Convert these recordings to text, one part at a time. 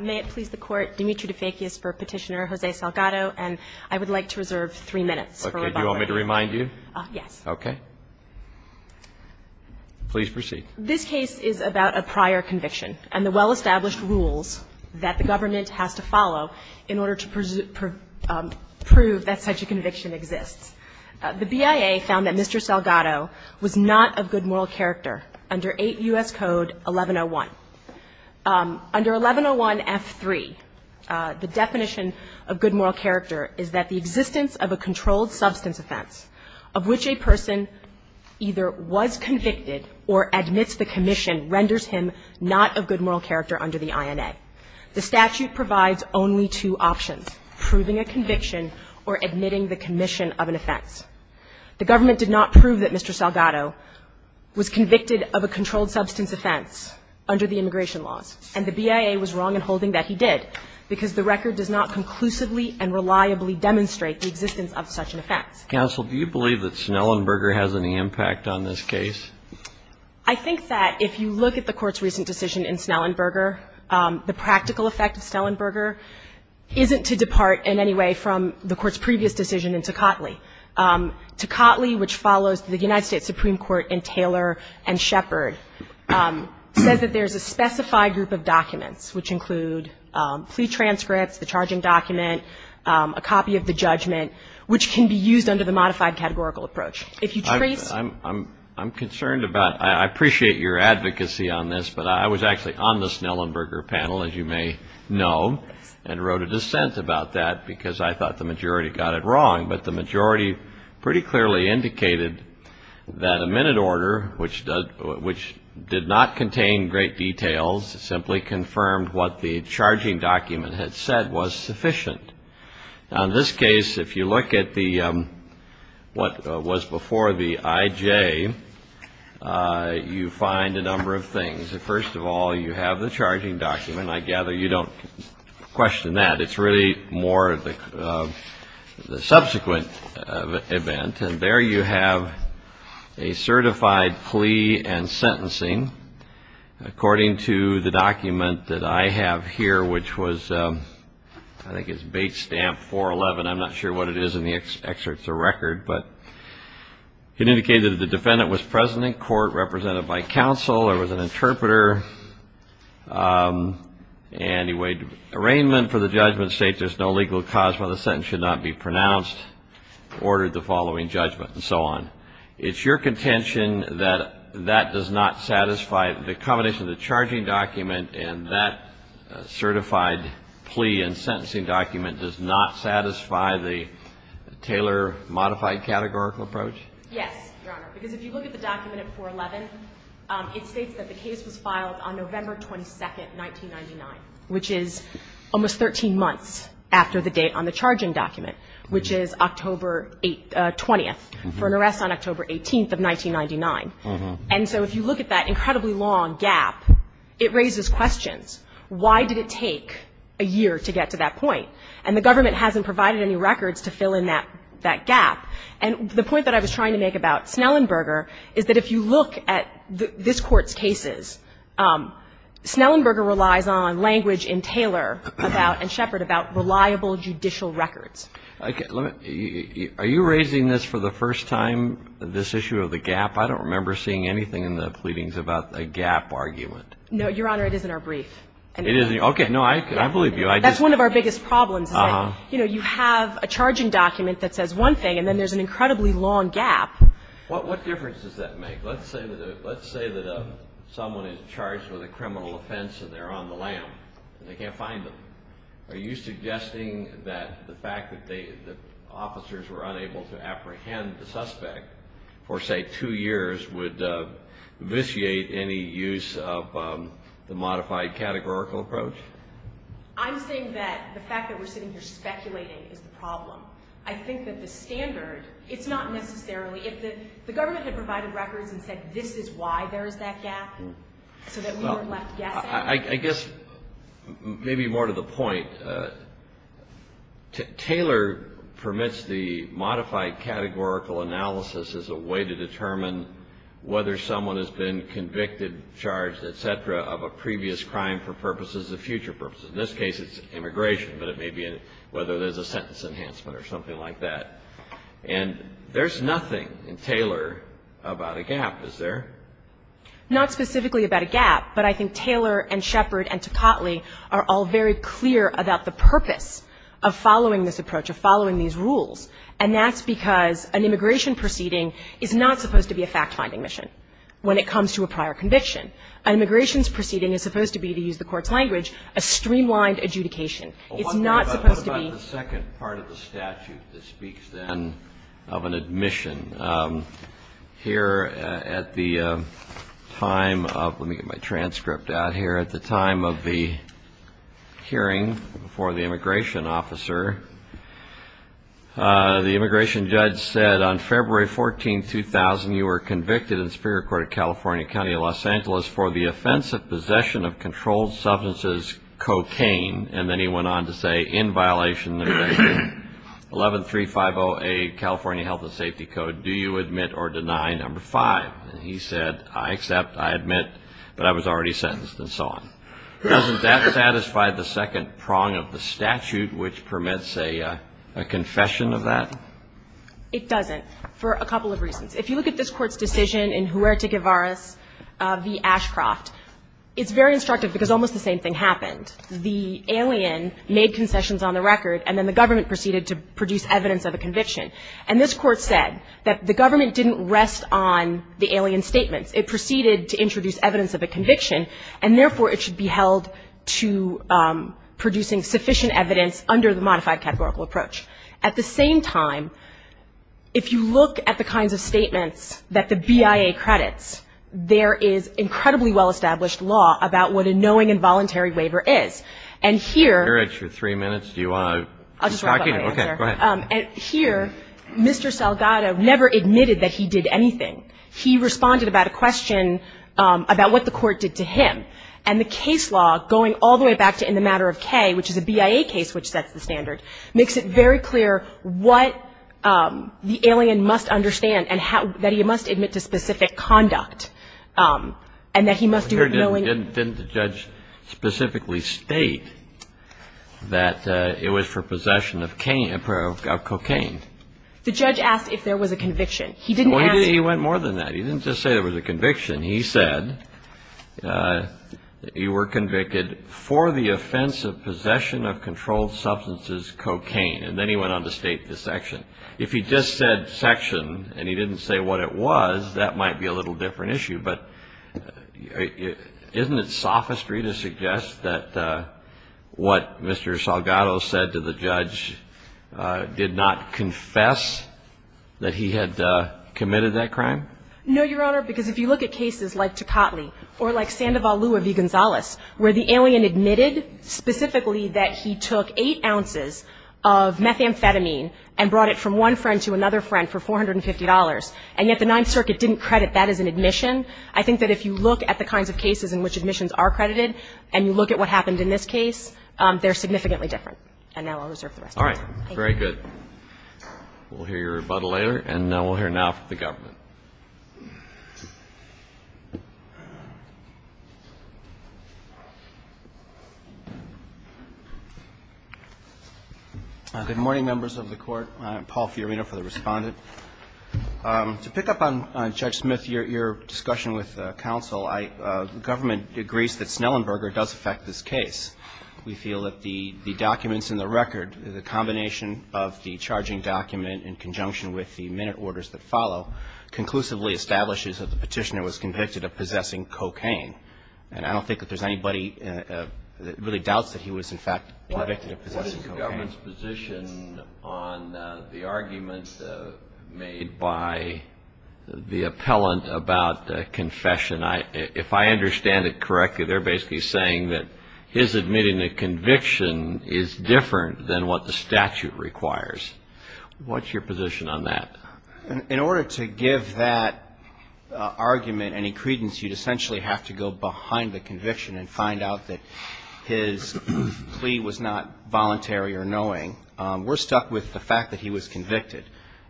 May it please the Court, Dimitri DeFekis for Petitioner Jose Salgado, and I would like to reserve three minutes for rebuttal. Okay. Do you want me to remind you? Yes. Okay. Please proceed. This case is about a prior conviction and the well-established rules that the government has to follow in order to prove that such a conviction exists. The BIA found that Mr. Salgado was not of good moral character under 8 U.S. Code 1101. Under 1101F3, the definition of good moral character is that the existence of a controlled substance offense of which a person either was convicted or admits the commission renders him not of good moral character under the INA. The statute provides only two options, proving a conviction or admitting the commission of an offense. The government did not prove that Mr. Salgado was convicted of a controlled substance offense under the immigration laws, and the BIA was wrong in holding that he did, because the record does not conclusively and reliably demonstrate the existence of such an offense. Counsel, do you believe that Snellenberger has any impact on this case? I think that if you look at the Court's recent decision in Snellenberger, the practical effect of Snellenberger isn't to depart in any way from the Court's previous decision in Tocatli. Tocatli, which follows the United States Supreme Court in Taylor and Shepard, says that there's a specified group of documents, which include plea transcripts, the charging document, a copy of the judgment, which can be used under the modified categorical approach. If you trace ---- I'm concerned about ---- I appreciate your advocacy on this, but I was actually on the Snellenberger panel, as you may know, and wrote a dissent about that because I thought the majority got it wrong. But the majority pretty clearly indicated that a minute order, which did not contain great details, simply confirmed what the charging document had said was sufficient. Now, in this case, if you look at what was before the IJ, you find a number of things. First of all, you have the charging document. I gather you don't question that. It's really more of the subsequent event. And there you have a certified plea and sentencing, according to the document that I have here, which was, I think it's Bates Stamp 411. I'm not sure what it is in the excerpts or record. But it indicated that the defendant was present in court, represented by counsel, or was an interpreter, and he waived arraignment for the judgment, states there's no legal cause why the sentence should not be pronounced, ordered the following judgment, and so on. It's your contention that that does not satisfy the combination of the charging document and that certified plea and sentencing document does not satisfy the Taylor modified categorical approach? Yes, Your Honor. Because if you look at the document at 411, it states that the case was filed on November 22nd, 1999, which is almost 13 months after the date on the charging document, which is October 20th, for an arrest on October 18th of 1999. And so if you look at that incredibly long gap, it raises questions. Why did it take a year to get to that point? And the government hasn't provided any records to fill in that gap. And the point that I was trying to make about Snellenberger is that if you look at this Court's cases, Snellenberger relies on language in Taylor about and Shepard about reliable judicial records. Are you raising this for the first time, this issue of the gap? I don't remember seeing anything in the pleadings about a gap argument. No, Your Honor. It is in our brief. Okay. No, I believe you. That's one of our biggest problems is that, you know, you have a charging document that says one thing, and then there's an incredibly long gap. What difference does that make? Let's say that someone is charged with a criminal offense and they're on the lam and they can't find them. Are you suggesting that the fact that the officers were unable to apprehend the suspect for, say, two years would vitiate any use of the modified categorical approach? I'm saying that the fact that we're sitting here speculating is the problem. I think that the standard, it's not necessarily. If the government had provided records and said this is why there is that gap, so that we were left guessing. I guess maybe more to the point, Taylor permits the modified categorical analysis as a way to determine whether someone has been convicted, charged, et cetera, of a previous crime for purposes of future purposes. In this case, it's immigration, but it may be whether there's a sentence enhancement or something like that. And there's nothing in Taylor about a gap, is there? Not specifically about a gap, but I think Taylor and Shepard and Tocatli are all very clear about the purpose of following this approach, of following these rules. And that's because an immigration proceeding is not supposed to be a fact-finding mission when it comes to a prior conviction. An immigration proceeding is supposed to be, to use the Court's language, a streamlined adjudication. It's not supposed to be. Kennedy. What about the second part of the statute that speaks then of an admission? Here at the time of, let me get my transcript out here. At the time of the hearing before the immigration officer, the immigration judge said on February 14, 2000, you were convicted in the Superior Court of California County of Los Angeles for the offense of possession of controlled substances, cocaine, and then he went on to say, in violation of 11350A California Health and Safety Code, do you admit or deny number five? And he said, I accept, I admit, but I was already sentenced, and so on. Doesn't that satisfy the second prong of the statute, which permits a confession of that? It doesn't, for a couple of reasons. If you look at this Court's decision in Huerta-Guevara v. Ashcroft, it's very instructive because almost the same thing happened. The alien made concessions on the record, and then the government proceeded to produce evidence of a conviction. And this Court said that the government didn't rest on the alien statements. It proceeded to introduce evidence of a conviction, and therefore, it should be held to producing sufficient evidence under the modified categorical approach. At the same time, if you look at the kinds of statements that the BIA credits, there is incredibly well-established law about what a knowing and voluntary waiver is. And here Mr. Salgado never admitted that he did anything. He responded about a question about what the Court did to him. And the case law, going all the way back to in the matter of K, which is a BIA case which sets the standard, makes it very clear what the alien must understand and how he must admit to specific conduct, and that he must do it knowingly. Didn't the judge specifically state that it was for possession of cocaine? The judge asked if there was a conviction. He didn't ask. He went more than that. He didn't just say there was a conviction. He said you were convicted for the offense of possession of controlled substances cocaine. And then he went on to state the section. If he just said section and he didn't say what it was, that might be a little different issue. But isn't it sophistry to suggest that what Mr. Salgado said to the judge did not confess that he had committed that crime? No, Your Honor, because if you look at cases like Tocatli or like Sandoval Lua v. Gonzales where the alien admitted specifically that he took eight ounces of methamphetamine and brought it from one friend to another friend for $450, and yet the Ninth Circuit didn't credit that as an admission, I think that if you look at the kinds of cases in which admissions are credited and you look at what happened in this case, they're significantly different. And now I'll reserve the rest of my time. Thank you. All right. Very good. We'll hear your rebuttal later, and we'll hear now from the government. Good morning, members of the Court. I'm Paul Fiorina for the Respondent. To pick up on Judge Smith, your discussion with counsel, the government agrees that Snellenberger does affect this case. We feel that the documents in the record, the combination of the charging document in conjunction with the minute orders that follow, conclusively establishes that the petitioner was convicted of possessing cocaine. And I don't think that there's anybody that really doubts that he was, in fact, convicted of possessing cocaine. What is the government's position on the argument made by the appellant about confession? And if I understand it correctly, they're basically saying that his admitting a conviction is different than what the statute requires. What's your position on that? In order to give that argument any credence, you'd essentially have to go behind the conviction and find out that his plea was not voluntary or knowing. We're stuck with the fact that he was convicted.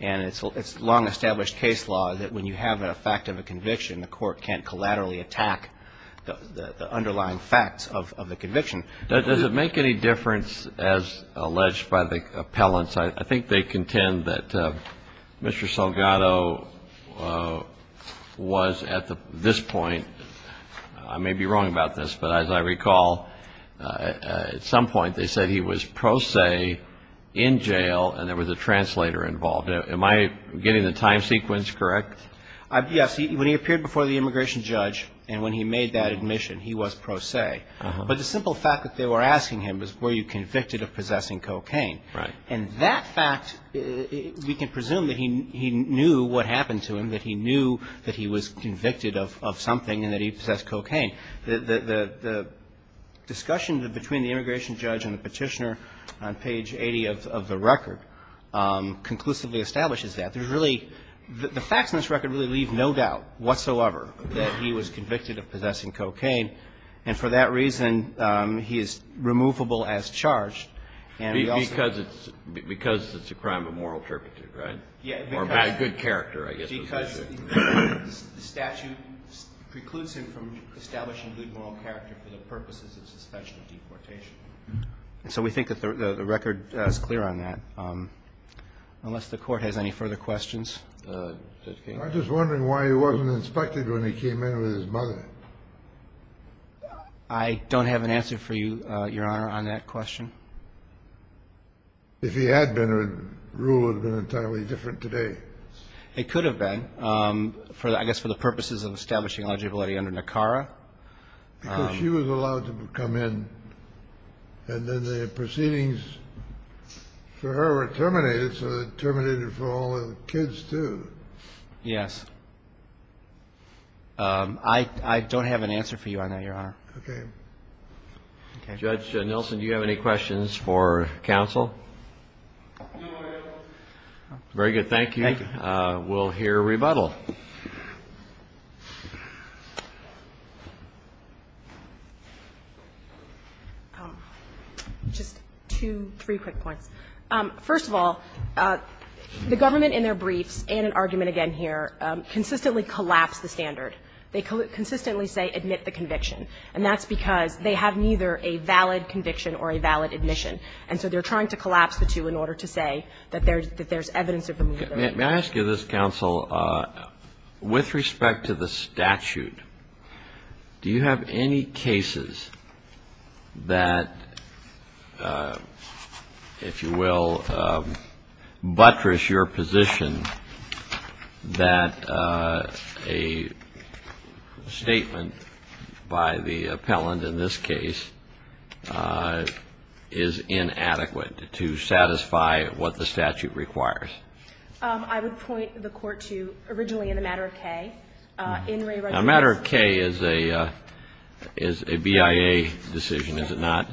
And it's long-established case law that when you have an effect of a conviction, the court can't collaterally attack the underlying facts of the conviction. Does it make any difference, as alleged by the appellants, I think they contend that Mr. Salgado was at this point, I may be wrong about this, but as I recall, at some point they said he was pro se in jail and there was a translator involved. Am I getting the time sequence correct? Yes. When he appeared before the immigration judge and when he made that admission, he was pro se. But the simple fact that they were asking him was were you convicted of possessing cocaine. Right. And that fact, we can presume that he knew what happened to him, that he knew that he was convicted of something and that he possessed cocaine. The discussion between the immigration judge and the petitioner on page 80 of the record conclusively establishes that. There's really, the facts in this record really leave no doubt whatsoever that he was convicted of possessing cocaine. And for that reason, he is removable as charged. Because it's a crime of moral turpitude, right? Yeah. Or by good character, I guess. Because the statute precludes him from establishing good moral character for the purposes of suspension of deportation. So we think that the record is clear on that. Unless the court has any further questions. I'm just wondering why he wasn't inspected when he came in with his mother. I don't have an answer for you, Your Honor, on that question. If he had been, the rule would have been entirely different today. It could have been. I guess for the purposes of establishing eligibility under NACARA. Because she was allowed to come in. And then the proceedings for her were terminated, so they terminated for all the kids, too. Yes. I don't have an answer for you on that, Your Honor. Okay. Judge Nilsen, do you have any questions for counsel? No, I don't. Very good. Thank you. Thank you. We'll hear rebuttal. Just two, three quick points. First of all, the government in their briefs, and an argument again here, consistently collapse the standard. They consistently say admit the conviction. And that's because they have neither a valid conviction or a valid admission. And so they're trying to collapse the two in order to say that there's evidence of the movement. May I ask you this, counsel? With respect to the statute, do you have any cases that, if you will, buttress your position that a statement by the appellant in this case is inadequate to satisfy what the statute requires? I would point the Court to originally in the matter of K. Now, matter of K is a BIA decision, is it not?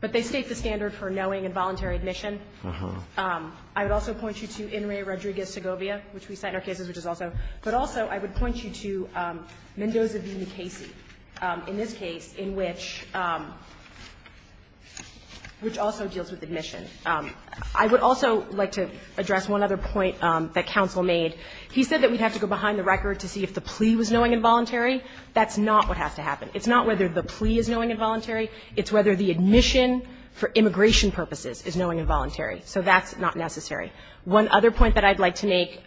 But they state the standard for knowing and voluntary admission. Uh-huh. I would also point you to Enri Rodriguez-Segovia, which we cite in our cases, which is also. But also I would point you to Mendoza v. McCasey in this case, in which also deals with admission. I would also like to address one other point that counsel made. He said that we'd have to go behind the record to see if the plea was knowing and voluntary. That's not what has to happen. It's not whether the plea is knowing and voluntary. It's whether the admission for immigration purposes is knowing and voluntary. So that's not necessary. One other point that I'd like to make,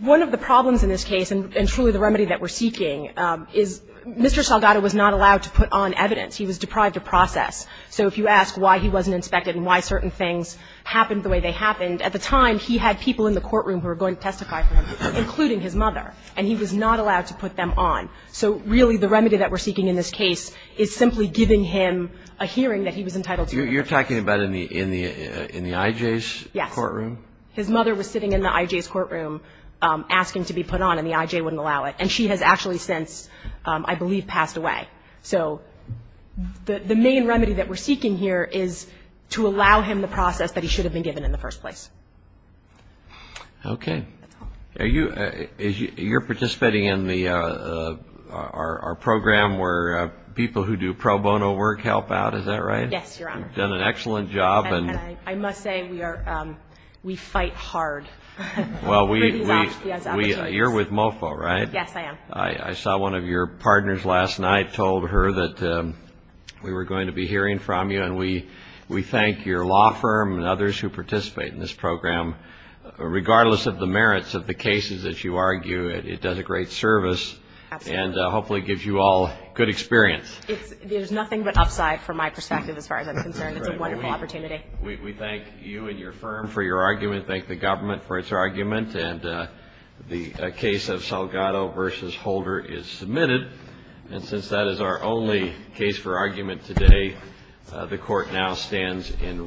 one of the problems in this case, and truly the remedy that we're seeking, is Mr. Salgado was not allowed to put on evidence. He was deprived of process. So if you ask why he wasn't inspected and why certain things happened the way they happened, at the time he had people in the courtroom who were going to testify for him, including his mother, and he was not allowed to put them on. So really the remedy that we're seeking in this case is simply giving him a hearing that he was entitled to. You're talking about in the I.J.'s courtroom? Yes. His mother was sitting in the I.J.'s courtroom asking to be put on, and the I.J. wouldn't allow it. And she has actually since, I believe, passed away. So the main remedy that we're seeking here is to allow him the process that he should have been given in the first place. Okay. That's all. You're participating in our program where people who do pro bono work help out. Is that right? Yes, Your Honor. You've done an excellent job. And I must say we fight hard. Well, you're with MOFO, right? Yes, I am. I saw one of your partners last night told her that we were going to be hearing from you, and we thank your law firm and others who participate in this program. Regardless of the merits of the cases that you argue, it does a great service. Absolutely. And hopefully gives you all good experience. There's nothing but upside from my perspective as far as I'm concerned. It's a wonderful opportunity. We thank you and your firm for your argument, thank the government for its argument, and the case of Salgado v. Holder is submitted. And since that is our only case for argument today, the Court now stands in recess.